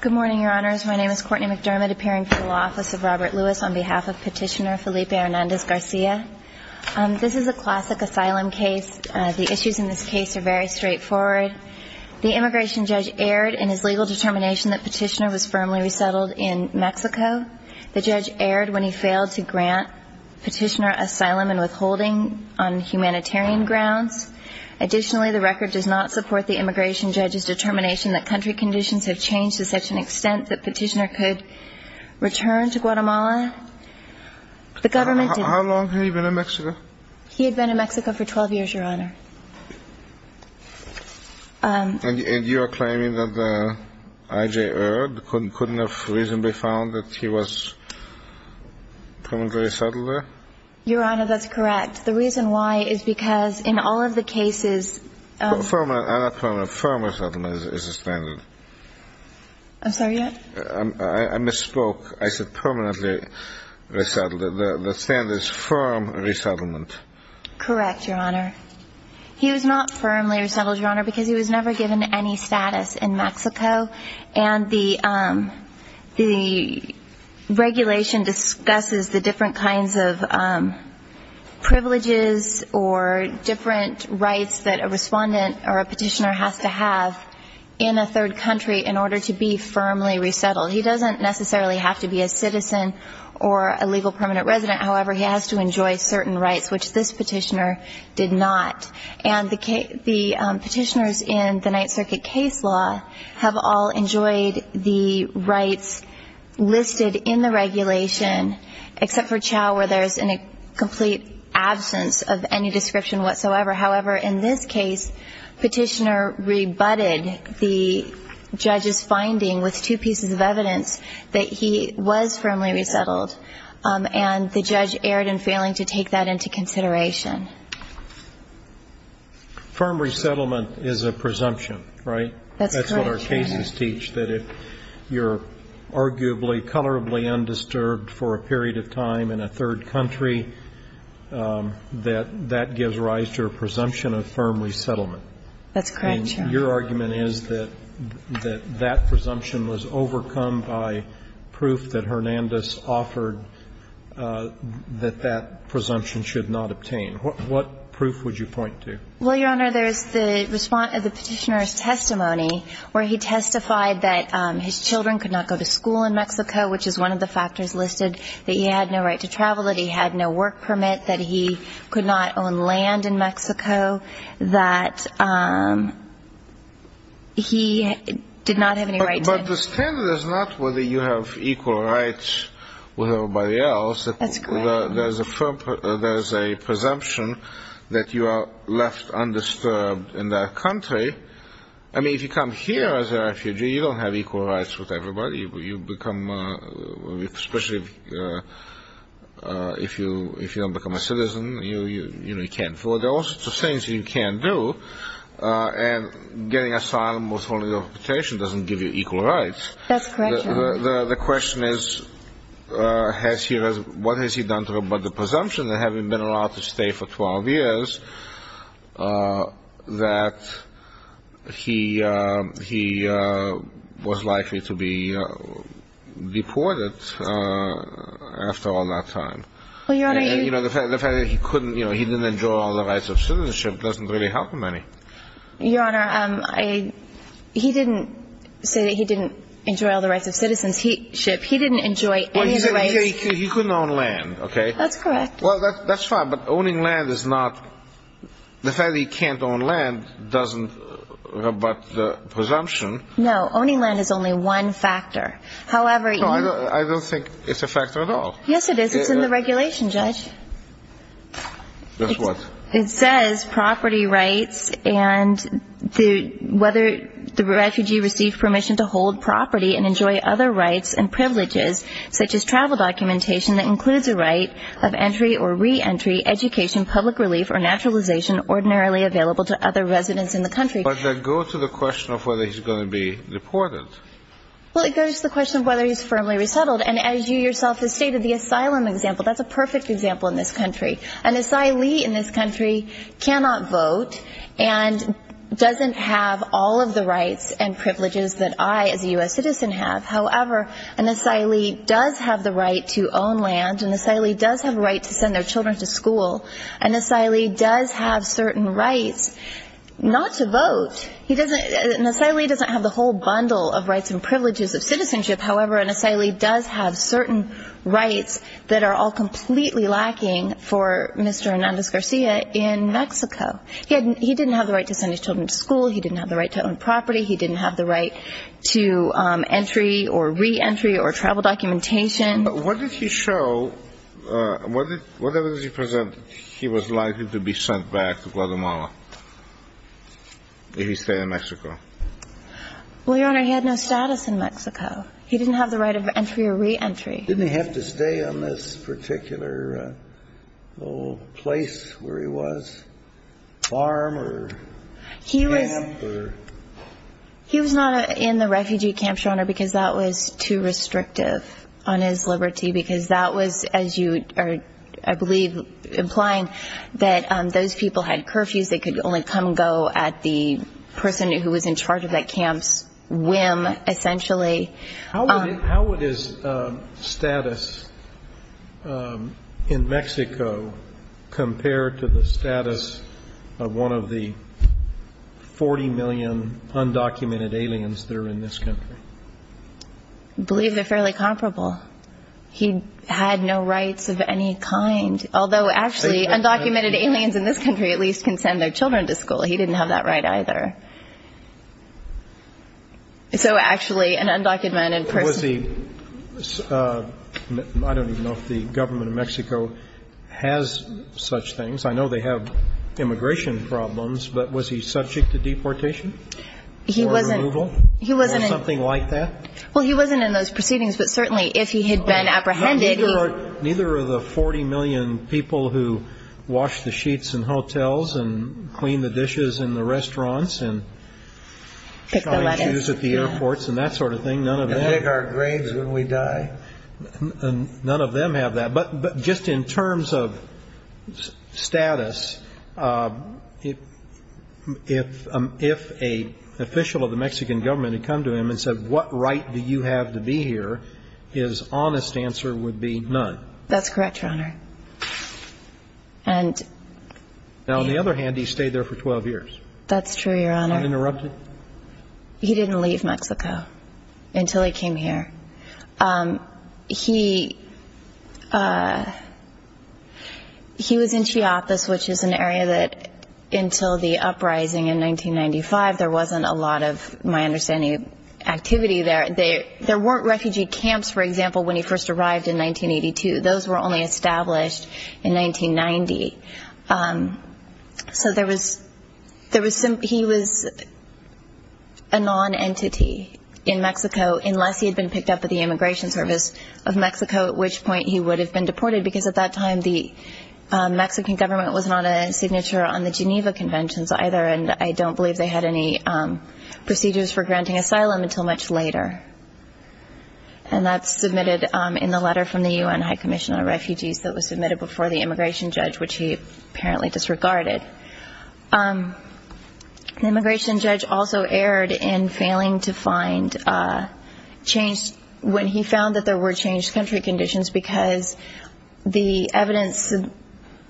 Good morning, Your Honors. My name is Courtney McDermott, appearing for the Law Office of Robert Lewis on behalf of Petitioner Felipe Hernandez-Garcia. This is a classic asylum case. The issues in this case are very straightforward. The immigration judge erred in his legal determination that Petitioner was firmly resettled in Mexico. The judge erred when he failed to grant Petitioner asylum and withholding on humanitarian grounds. Additionally, the record does not support the immigration judge's determination that country conditions have changed to such an extent that Petitioner could return to Guatemala. The government didn't. How long had he been in Mexico? He had been in Mexico for 12 years, Your Honor. And you are claiming that the I.J. erred, couldn't have reasonably found that he was permanently settled there? Your Honor, that's correct. The reason why is because in all of the cases... I'm not permanent. Firm resettlement is a standard. I'm sorry, Your Honor? I misspoke. I said permanently resettled. The standard is firm resettlement. Correct, Your Honor. He was not firmly resettled, Your Honor, because he was never given any status in Mexico. And the regulation discusses the different kinds of privileges or different rights that a respondent or a petitioner has to have in a third country in order to be firmly resettled. He doesn't necessarily have to be a citizen or a legal permanent resident. However, he has to enjoy certain rights, which this petitioner did not. And the petitioners in the Ninth Circuit case law have all enjoyed the rights listed in the regulation, except for Chau where there's a complete absence of any description whatsoever. However, in this case, the petitioner rebutted the judge's finding with two pieces of evidence that he was firmly resettled. And the judge erred in failing to take that into consideration. Firm resettlement is a presumption, right? That's correct, Your Honor. That's what our cases teach, that if you're arguably colorably undisturbed for a period of time in a third country, that that gives rise to a presumption of firm resettlement. That's correct, Your Honor. And your argument is that that presumption was overcome by proof that Hernandez offered that that presumption should not obtain. What proof would you point to? Well, Your Honor, there's the respondent of the petitioner's testimony, where he testified that his children could not go to school in Mexico, which is one of the factors listed, that he had no right to travel, that he had no work permit, that he could not own land in Mexico, that he did not have any rights. But the standard is not whether you have equal rights with everybody else. That's correct. There's a presumption that you are left undisturbed in that country. I mean, if you come here as a refugee, you don't have equal rights with everybody. You become, especially if you don't become a citizen, you can't afford all sorts of things you can't do. And getting asylum with only a petition doesn't give you equal rights. The question is, what has he done about the presumption that having been allowed to stay for 12 years, that he was likely to be deported after all that time? Well, Your Honor, you – The fact that he didn't enjoy all the rights of citizenship doesn't really help him any. Your Honor, he didn't say that he didn't enjoy all the rights of citizenship. He didn't enjoy any of the rights – Well, he said he couldn't own land, okay? That's correct. Well, that's fine. But owning land is not – the fact that he can't own land doesn't rebut the presumption. No. Owning land is only one factor. However, you – No, I don't think it's a factor at all. Yes, it is. It's in the regulation, Judge. It's what? It says property rights and whether the refugee received permission to hold property and enjoy other rights and privileges such as travel documentation that includes a right of entry or reentry, education, public relief, or naturalization ordinarily available to other residents in the country. But that goes to the question of whether he's going to be deported. Well, it goes to the question of whether he's firmly resettled. And as you yourself have stated, the asylum example, that's a perfect example in this country. An asylee in this country cannot vote and doesn't have all of the rights and privileges that I, as a U.S. citizen, have. However, an asylee does have the right to own land. An asylee does have a right to send their children to school. An asylee does have certain rights not to vote. He doesn't – an asylee doesn't have the whole bundle of rights and privileges of citizenship. However, an asylee does have certain rights that are all completely lacking for Mr. Hernandez-Garcia in Mexico. He didn't have the right to send his children to school. He didn't have the right to own property. He didn't have the right to entry or reentry or travel documentation. But what did he show? Whatever he presented, he was likely to be sent back to Guatemala if he stayed in Mexico. Well, Your Honor, he had no status in Mexico. He didn't have the right of entry or reentry. Didn't he have to stay on this particular little place where he was, farm or camp or? He was not in the refugee camp, Your Honor, because that was too restrictive on his liberty, because that was, as you are, I believe, implying that those people had curfews. They could only come and go at the person who was in charge of that camp's whim, essentially. How would his status in Mexico compare to the status of one of the 40 million undocumented aliens that are in this country? I believe they're fairly comparable. He had no rights of any kind, although actually undocumented aliens in this country at least can send their children to school. He didn't have that right either. So actually an undocumented person. I don't even know if the government of Mexico has such things. I know they have immigration problems, but was he subject to deportation or removal or something like that? Well, he wasn't in those proceedings, but certainly if he had been apprehended. Neither are the 40 million people who wash the sheets in hotels and clean the dishes in the restaurants and pick the lettuce at the airports and that sort of thing. None of them. And dig our graves when we die. None of them have that. But just in terms of status, if an official of the Mexican government had come to him and said, what right do you have to be here? His honest answer would be none. That's correct, Your Honor. Now, on the other hand, he stayed there for 12 years. That's true, Your Honor. Uninterrupted? He didn't leave Mexico until he came here. He was in Chiapas, which is an area that until the uprising in 1995, there wasn't a lot of, my understanding, activity there. There weren't refugee camps, for example, when he first arrived in 1982. Those were only established in 1990. So he was a non-entity in Mexico unless he had been picked up at the Immigration Service of Mexico, at which point he would have been deported because at that time the Mexican government was not a signature on the Geneva Conventions either, and I don't believe they had any procedures for granting asylum until much later. And that's submitted in the letter from the UN High Commission on Refugees that was submitted before the immigration judge, which he apparently disregarded. The immigration judge also erred in failing to find change when he found that there were changed country conditions because the evidence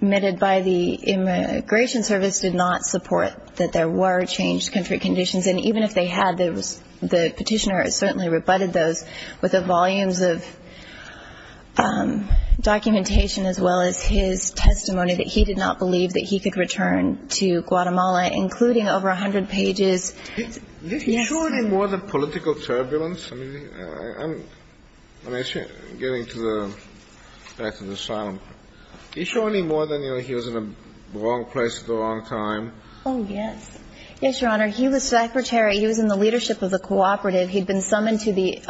submitted by the Immigration Service did not support that there were changed country conditions. And even if they had, the petitioner certainly rebutted those with the volumes of documentation as well as his testimony that he did not believe that he could return to Guatemala, including over 100 pages. Yes, Your Honor. Is he surely more than political turbulence? I mean, I'm getting to the fact of the asylum. Is he surely more than, you know, he was in the wrong place at the wrong time? Oh, yes. Yes, Your Honor. He was secretary. He was in the leadership of the cooperative. He'd been summoned to the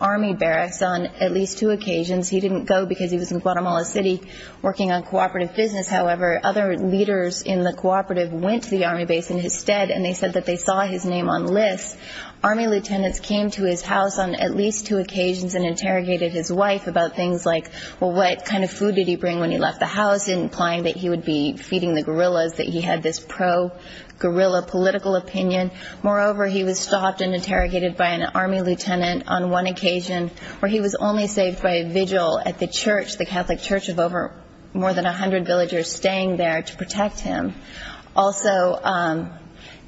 army barracks on at least two occasions. He didn't go because he was in Guatemala City working on cooperative business, however. Other leaders in the cooperative went to the army base in his stead, and they said that they saw his name on lists. Army lieutenants came to his house on at least two occasions and interrogated his wife about things like, well, what kind of food did he bring when he left the house, implying that he would be feeding the guerrillas, that he had this pro-guerrilla political opinion. Moreover, he was stopped and interrogated by an army lieutenant on one occasion where he was only saved by a vigil at the church, the Catholic church of over more than 100 villagers staying there to protect him. Also,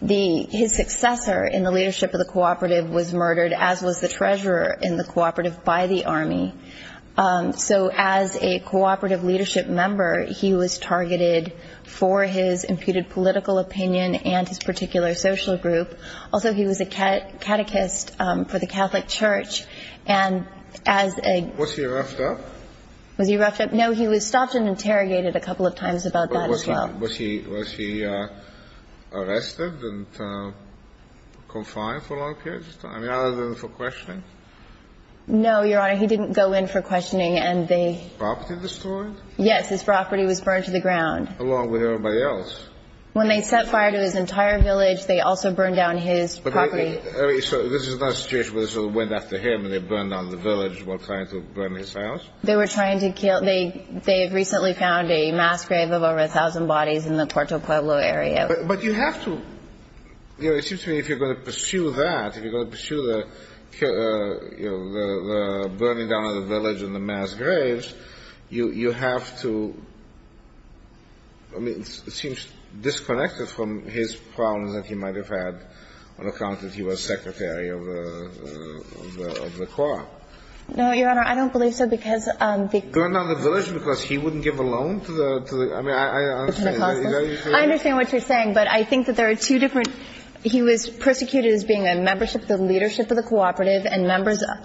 his successor in the leadership of the cooperative was murdered, as was the treasurer in the cooperative, by the army. So as a cooperative leadership member, he was targeted for his imputed political opinion and his particular social group. Also, he was a catechist for the Catholic church, and as a ---- Was he roughed up? Was he roughed up? No, he was stopped and interrogated a couple of times about that as well. Was he arrested and confined for a long period of time, other than for questioning? No, Your Honor, he didn't go in for questioning, and they ---- Property destroyed? Yes, his property was burned to the ground. Along with everybody else? When they set fire to his entire village, they also burned down his property. So this is not a situation where they sort of went after him and they burned down the village while trying to burn his house? They were trying to kill ---- They had recently found a mass grave of over 1,000 bodies in the Puerto Pueblo area. But you have to ---- It seems to me if you're going to pursue that, if you're going to pursue the burning down of the village and the mass graves, you have to ---- I mean, it seems disconnected from his problems that he might have had on account that he was Secretary of the Corps. No, Your Honor, I don't believe so, because the ---- Burned down the village because he wouldn't give a loan to the ---- I mean, I understand. I understand what you're saying, but I think that there are two different ---- He was persecuted as being a member of the leadership of the cooperative, and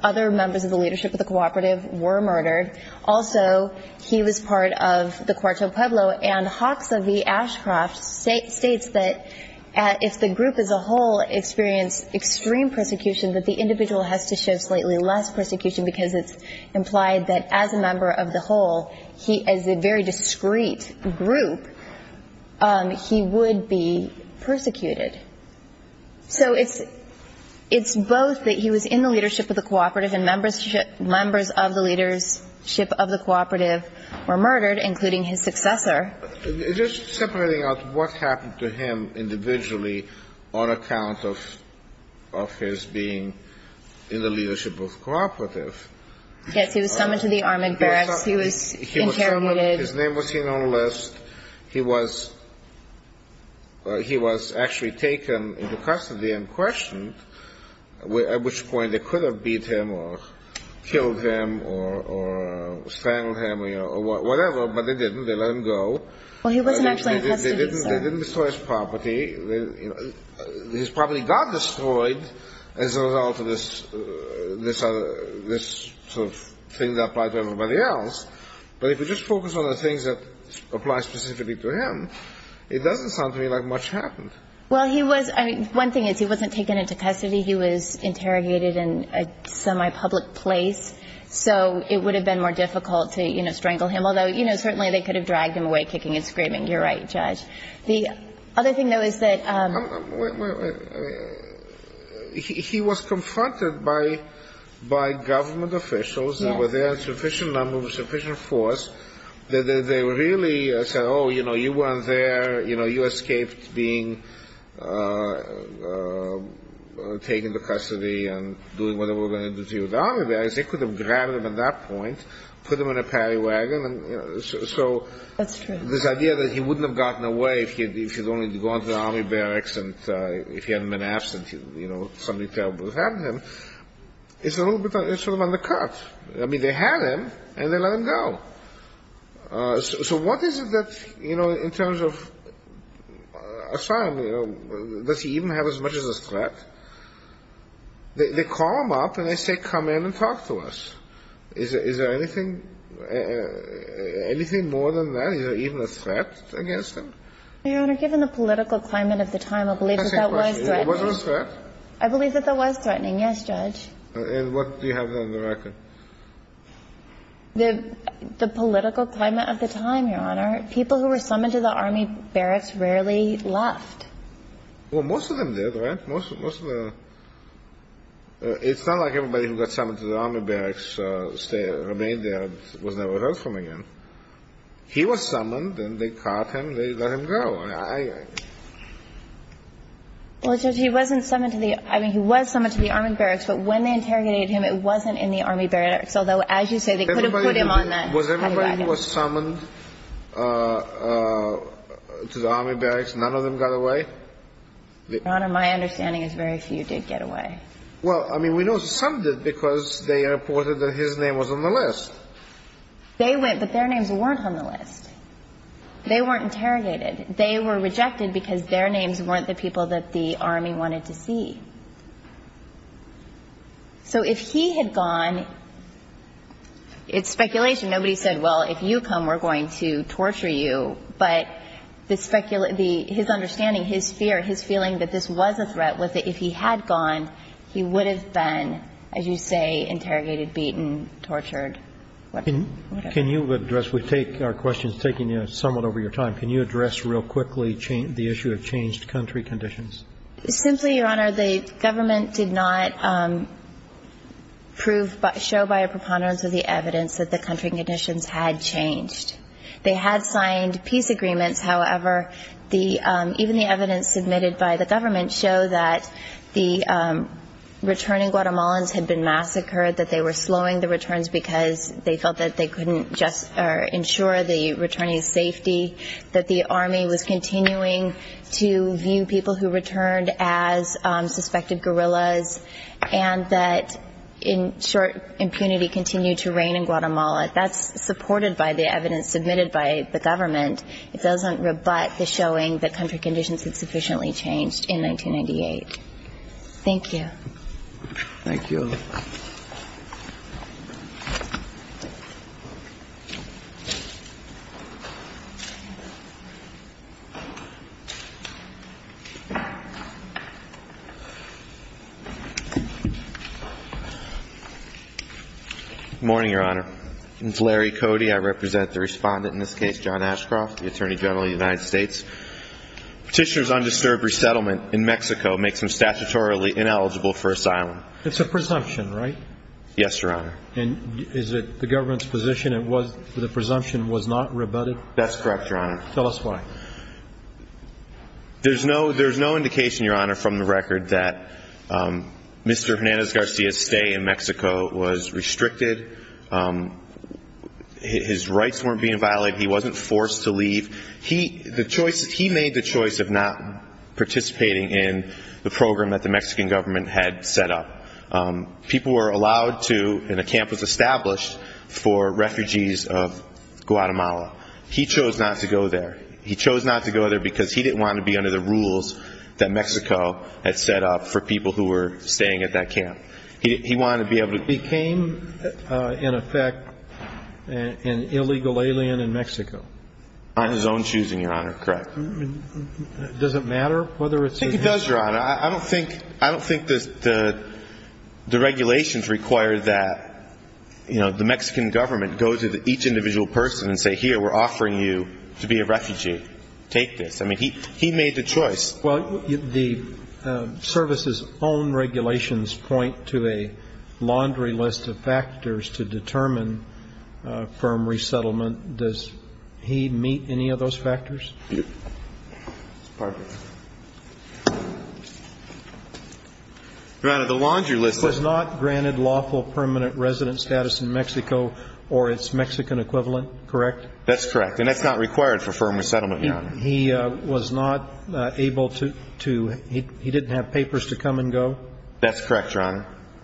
other members of the leadership of the cooperative were murdered. Also, he was part of the Puerto Pueblo, and Hoxha v. Ashcroft states that if the group as a whole experienced extreme persecution, that the individual has to show slightly less persecution because it's implied that as a member of the whole, as a very discreet group, he would be persecuted. So it's both that he was in the leadership of the cooperative and members of the leadership of the cooperative were murdered, including his successor. Just separating out what happened to him individually on account of his being in the leadership of cooperative. Yes, he was summoned to the army barracks. He was interrogated. His name was seen on a list. He was actually taken into custody and questioned, at which point they could have beat him or killed him or strangled him or whatever, but they didn't. They let him go. Well, he wasn't actually in custody, sir. They didn't destroy his property. His property got destroyed as a result of this sort of thing that applied to everybody else. But if you just focus on the things that apply specifically to him, it doesn't sound to me like much happened. Well, he was one thing is he wasn't taken into custody. He was interrogated in a semi-public place. So it would have been more difficult to, you know, strangle him, although, you know, certainly they could have dragged him away kicking and screaming. You're right, Judge. The other thing, though, is that he was confronted by government officials. There were there a sufficient number, a sufficient force. They really said, oh, you know, you weren't there. You know, you escaped being taken into custody and doing whatever they were going to do to you. The army barracks, they could have grabbed him at that point, put him in a parry wagon. That's true. So this idea that he wouldn't have gotten away if he had only gone to the army barracks and if he hadn't been absent, you know, something terrible had happened to him, it's a little bit sort of undercut. I mean, they had him and they let him go. So what is it that, you know, in terms of asylum, does he even have as much as a threat? They call him up and they say, come in and talk to us. Is there anything more than that? Is there even a threat against him? Your Honor, given the political climate of the time, I believe that that was threatening. I believe that that was threatening, yes, Judge. And what do you have on the record? The political climate of the time, Your Honor. People who were summoned to the army barracks rarely left. Well, most of them did, right? It's not like everybody who got summoned to the army barracks remained there and was never heard from again. He was summoned and they caught him and they let him go. Well, Judge, he wasn't summoned to the – I mean, he was summoned to the army barracks, but when they interrogated him, it wasn't in the army barracks. Although, as you say, they could have put him on that. Was everybody who was summoned to the army barracks, none of them got away? Your Honor, my understanding is very few did get away. Well, I mean, we know some did because they reported that his name was on the list. They went, but their names weren't on the list. They weren't interrogated. They were rejected because their names weren't the people that the army wanted to see. So if he had gone, it's speculation. Nobody said, well, if you come, we're going to torture you. But the – his understanding, his fear, his feeling that this was a threat, was that if he had gone, he would have been, as you say, interrogated, beaten, tortured. Can you address – we take our questions taking somewhat over your time. Can you address real quickly the issue of changed country conditions? Simply, Your Honor, the government did not prove – show by a preponderance of the evidence that the country conditions had changed. They had signed peace agreements. However, the – even the evidence submitted by the government showed that the returning Guatemalans had been massacred, that they were slowing the returns because they felt that they couldn't just ensure the returning's safety, that the army was continuing to view people who returned as suspected guerrillas, and that, in short, impunity continued to reign in Guatemala. That's supported by the evidence submitted by the government. It doesn't rebut the showing that country conditions had sufficiently changed in 1998. Thank you. Thank you. Good morning, Your Honor. My name is Larry Cody. I represent the respondent in this case, John Ashcroft, the Attorney General of the United States. Petitioner's undisturbed resettlement in Mexico makes him statutorily ineligible for asylum. It's a presumption, right? Yes, Your Honor. And is it the government's position it was – the presumption was not rebutted? That's correct, Your Honor. Tell us why. There's no indication, Your Honor, from the record that Mr. Hernandez-Garcia's stay in Mexico was restricted. His rights weren't being violated. He wasn't forced to leave. He made the choice of not participating in the program that the Mexican government had set up. People were allowed to – and a camp was established for refugees of Guatemala. He chose not to go there. He chose not to go there because he didn't want to be under the rules that Mexico had set up for people who were staying at that camp. He wanted to be able to – He became, in effect, an illegal alien in Mexico. Not his own choosing, Your Honor. Correct. Does it matter whether it's his own? I think it does, Your Honor. I don't think – I don't think the regulations require that, you know, the Mexican government go to each individual person and say, here, we're offering you to be a refugee. Take this. I mean, he made the choice. Well, the service's own regulations point to a laundry list of factors to determine firm resettlement. Does he meet any of those factors? Your Honor, the laundry list – Was not granted lawful permanent resident status in Mexico or its Mexican equivalent, correct? That's correct. And that's not required for firm resettlement, Your Honor. He was not able to – he didn't have papers to come and go? That's correct, Your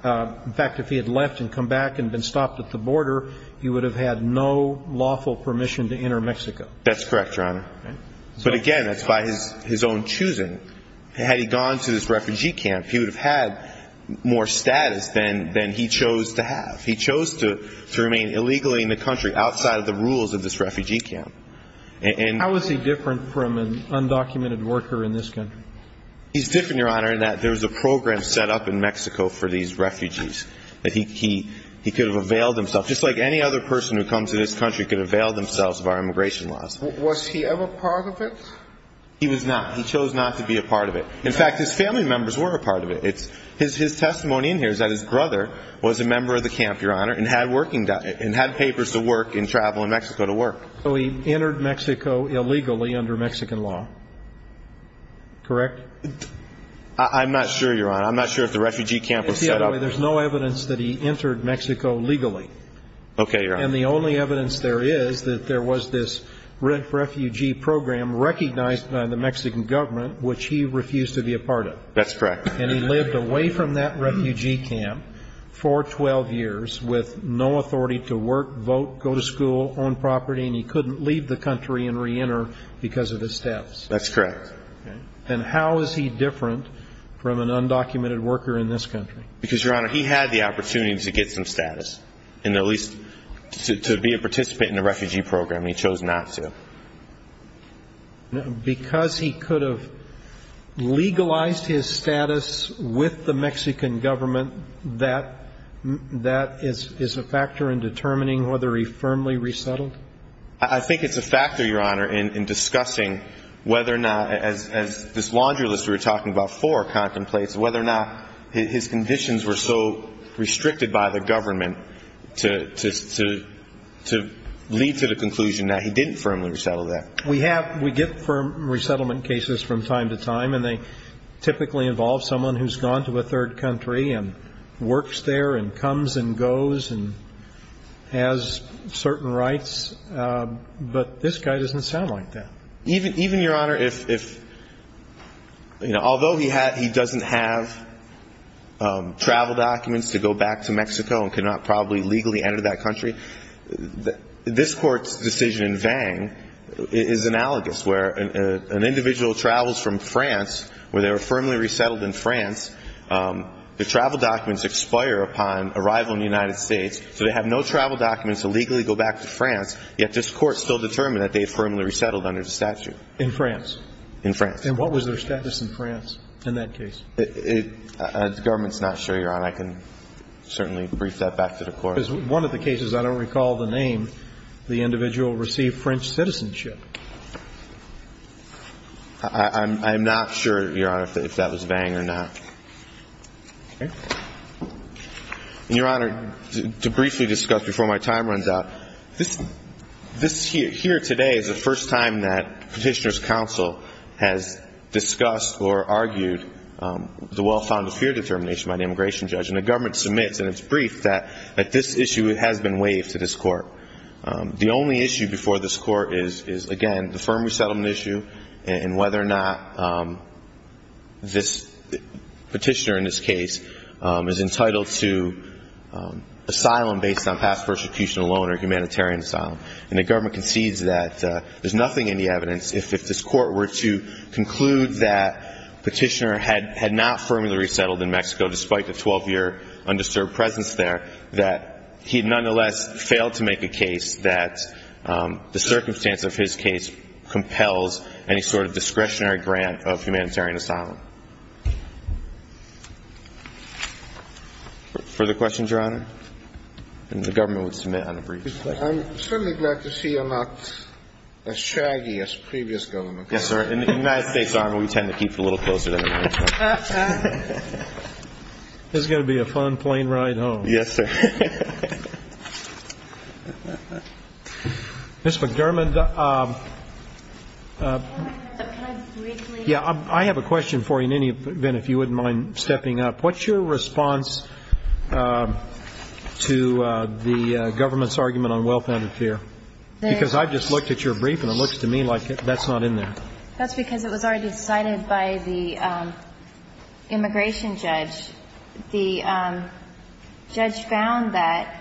Honor. In fact, if he had left and come back and been stopped at the border, he would have had no lawful permission to enter Mexico. That's correct, Your Honor. But, again, that's by his own choosing. Had he gone to this refugee camp, he would have had more status than he chose to have. He chose to remain illegally in the country outside of the rules of this refugee camp. How is he different from an undocumented worker in this country? He's different, Your Honor, in that there's a program set up in Mexico for these refugees that he could have availed himself. Just like any other person who comes to this country could avail themselves of our immigration laws. Was he ever part of it? He was not. He chose not to be a part of it. In fact, his family members were a part of it. His testimony in here is that his brother was a member of the camp, Your Honor, and had papers to work and travel in Mexico to work. So he entered Mexico illegally under Mexican law, correct? I'm not sure, Your Honor. I'm not sure if the refugee camp was set up. There's no evidence that he entered Mexico legally. Okay, Your Honor. And the only evidence there is that there was this refugee program recognized by the Mexican government, which he refused to be a part of. That's correct. And he lived away from that refugee camp for 12 years with no authority to work, vote, go to school, own property, and he couldn't leave the country and reenter because of his status. That's correct. And how is he different from an undocumented worker in this country? Because, Your Honor, he had the opportunity to get some status and at least to be a participant in the refugee program. He chose not to. Because he could have legalized his status with the Mexican government, that is a factor in determining whether he firmly resettled? I think it's a factor, Your Honor, in discussing whether or not, as this laundry list we were talking about before contemplates, whether or not his conditions were so restricted by the government to lead to the conclusion that he didn't firmly resettle there. We get firm resettlement cases from time to time, and they typically involve someone who's gone to a third country and works there and comes and goes and has certain rights. But this guy doesn't sound like that. Even, Your Honor, if, you know, although he doesn't have travel documents to go back to Mexico and could not probably legally enter that country, this Court's decision in Vang is analogous, where an individual travels from France where they were firmly resettled in France. The travel documents expire upon arrival in the United States, so they have no travel documents to legally go back to France, yet this Court still determined that they firmly resettled under the statute. In France? In France. And what was their status in France in that case? The government's not sure, Your Honor. I can certainly brief that back to the Court. Because one of the cases, I don't recall the name, the individual received French citizenship. I'm not sure, Your Honor, if that was Vang or not. Okay. And, Your Honor, to briefly discuss before my time runs out, this here today is the first time that Petitioner's Counsel has discussed or argued the well-founded fear determination by the immigration judge. And the government submits in its brief that this issue has been waived to this Court. The only issue before this Court is, again, the firm resettlement issue and whether or not Petitioner, in this case, is entitled to asylum based on past persecution alone or humanitarian asylum. And the government concedes that there's nothing in the evidence. If this Court were to conclude that Petitioner had not firmly resettled in Mexico, despite the 12-year undisturbed presence there, that he nonetheless failed to make a case that the circumstance of his case compels any sort of discretionary grant of humanitarian asylum. Further questions, Your Honor? And the government would submit on a brief question. I'm certainly glad to see you're not as shaggy as previous government. Yes, sir. In the United States, Your Honor, we tend to keep it a little closer than the United States. This is going to be a fun plane ride home. Yes, sir. Ms. McDermott, I have a question for you in any event, if you wouldn't mind stepping up. What's your response to the government's argument on well-founded fear? Because I just looked at your brief and it looks to me like that's not in there. That's because it was already cited by the immigration judge. The judge found that,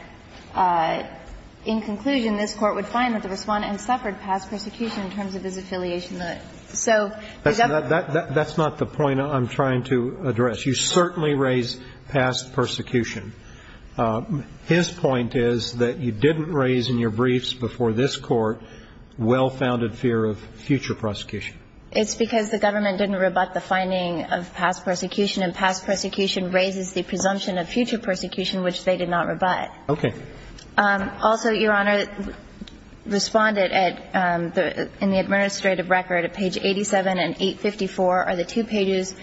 in conclusion, this Court would find that the Respondent suffered past persecution in terms of his affiliation to it. So is that the point? That's not the point I'm trying to address. You certainly raise past persecution. His point is that you didn't raise in your briefs before this Court well-founded fear of future prosecution. It's because the government didn't rebut the finding of past persecution, and past persecution raises the presumption of future persecution, which they did not rebut. Okay. Also, Your Honor, Respondent at the – in the administrative record at page 87 and 854 are the two pages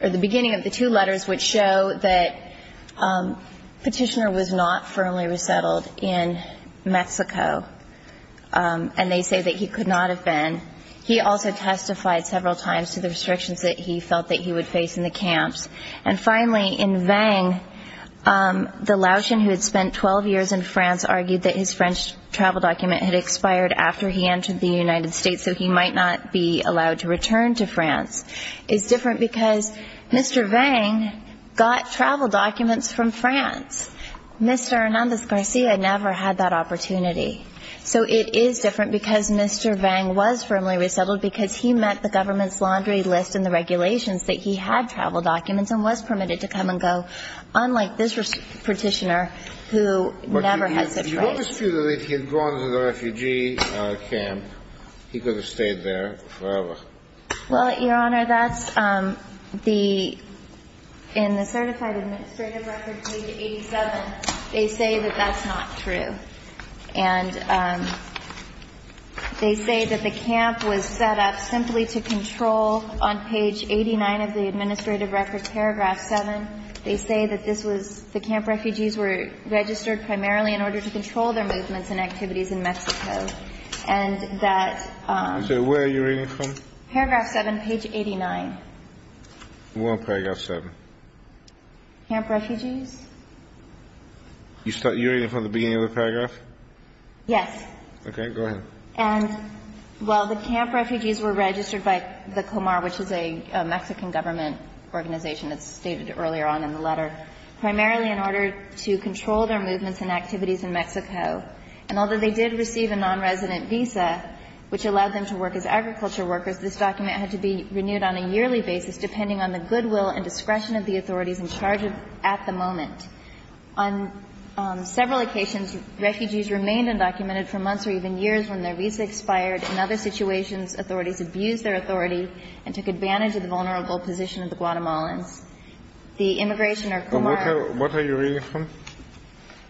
or the beginning of the two letters which show that Petitioner was not firmly resettled in Mexico. And they say that he could not have been. He also testified several times to the restrictions that he felt that he would face in the camps. And finally, in Vang, the Laotian who had spent 12 years in France argued that his French travel document had expired after he entered the United States, so he might not be allowed to return to France. It's different because Mr. Vang got travel documents from France. Mr. Hernandez-Garcia never had that opportunity. So it is different because Mr. Vang was firmly resettled because he met the government's laundry list and the regulations that he had travel documents and was permitted to come and go, unlike this Petitioner who never had such rights. But you don't dispute that if he had gone to the refugee camp, he could have stayed there forever. Well, Your Honor, that's the – in the Certified Administrative Records, page 87, they say that that's not true. And they say that the camp was set up simply to control, on page 89 of the Administrative Records, paragraph 7, they say that this was – the camp refugees were registered primarily in order to control their movements and activities in Mexico, and that – So where are you reading from? Paragraph 7, page 89. What about paragraph 7? Camp refugees. You're reading from the beginning of the paragraph? Yes. Okay. Go ahead. And while the camp refugees were registered by the COMAR, which is a Mexican government organization that's stated earlier on in the letter, primarily in order to control their movements and activities in Mexico, and although they did receive a nonresident visa, which allowed them to work as agriculture workers, this document had to be renewed on a yearly basis depending on the goodwill and discretion of the authorities in charge at the moment. On several occasions, refugees remained undocumented for months or even years when their visa expired. In other situations, authorities abused their authority and took advantage of the vulnerable position of the Guatemalans. The immigration or COMAR – What are you reading from?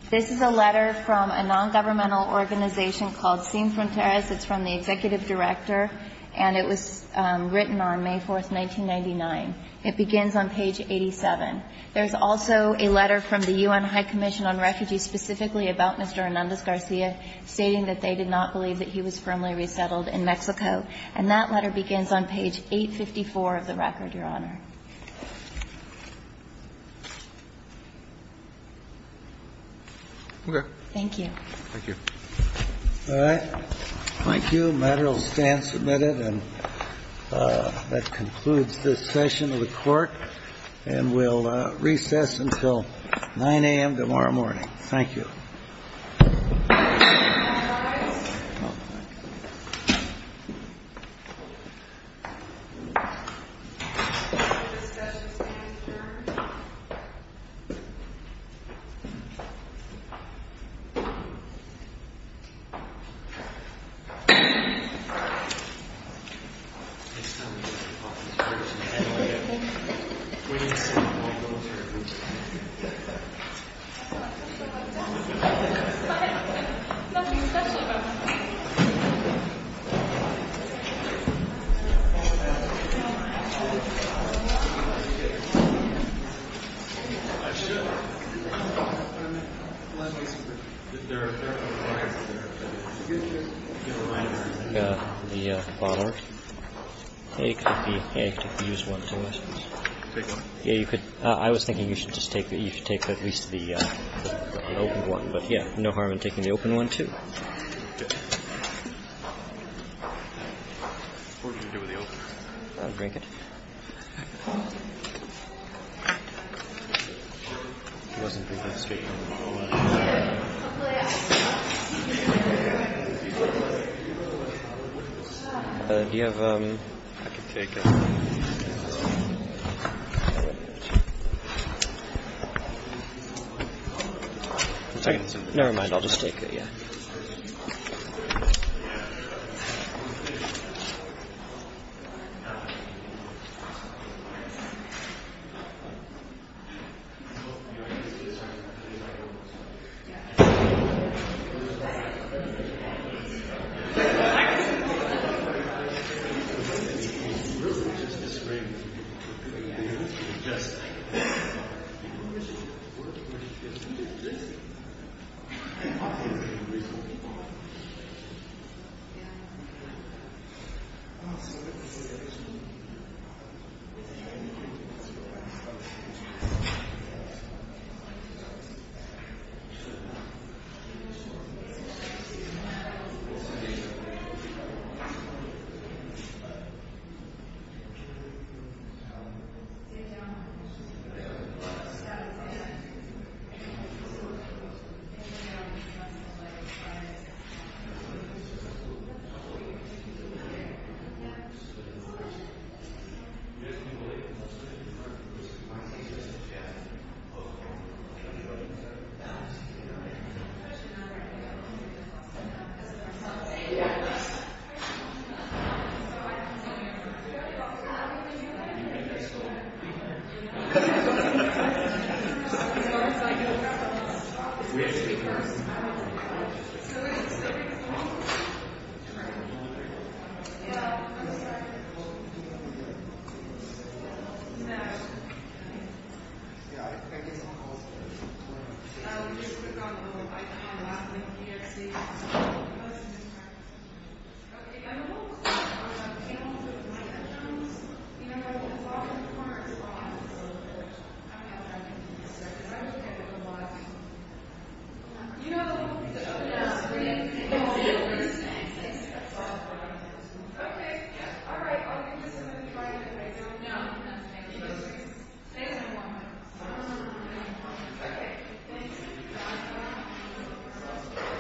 This is a letter from a nongovernmental organization called Sin Fronteras. It's from the executive director, and it was written on May 4, 1999. It begins on page 87. There's also a letter from the U.N. High Commission on Refugees specifically about Mr. Hernandez-Garcia stating that they did not believe that he was firmly resettled in Mexico, and that letter begins on page 854 of the record, Your Honor. Okay. Thank you. Thank you. All right. Thank you. The matter will stand submitted, and that concludes this session of the court, and we'll recess until 9 a.m. tomorrow morning. Thank you. All rise. Nothing special about that. The bottle. Hey, could you use one for us, please? Take one? Yeah, you could. I was thinking you should take at least the open one. But, yeah, no harm in taking the open one, too. Okay. What are you going to do with the open one? I'll drink it. Do you have... I can take it. No, never mind, I'll just take it, yeah. Just take it. Yeah. Yeah. Yes. As long as I can. Yes. So we can just give people the bottle. All right. Well, I'm just, I didn't know, you were going to do your own standard? No. Okay. Yeah, I do my own. Okay. I can't elaborate. Can you edit these from post, if you have time? I don't have time to do this, sir. Can I just get a little water? You know the movie that's coming out soon? Yeah. Oh, yeah. Okay. Yeah. All right. Well, I'm just going to try it if I don't know. Okay. Stay in the moment. Stay in the moment. Okay. Thank you. Bye-bye. Bye-bye. Bye-bye. Bye-bye. Bye-bye. Cool. Bye-bye. Bye-bye. See you next time, everyone. Bye-bye. Bye-bye. Bye. Thank you. Bye-bye. Bye-bye. Bye-bye.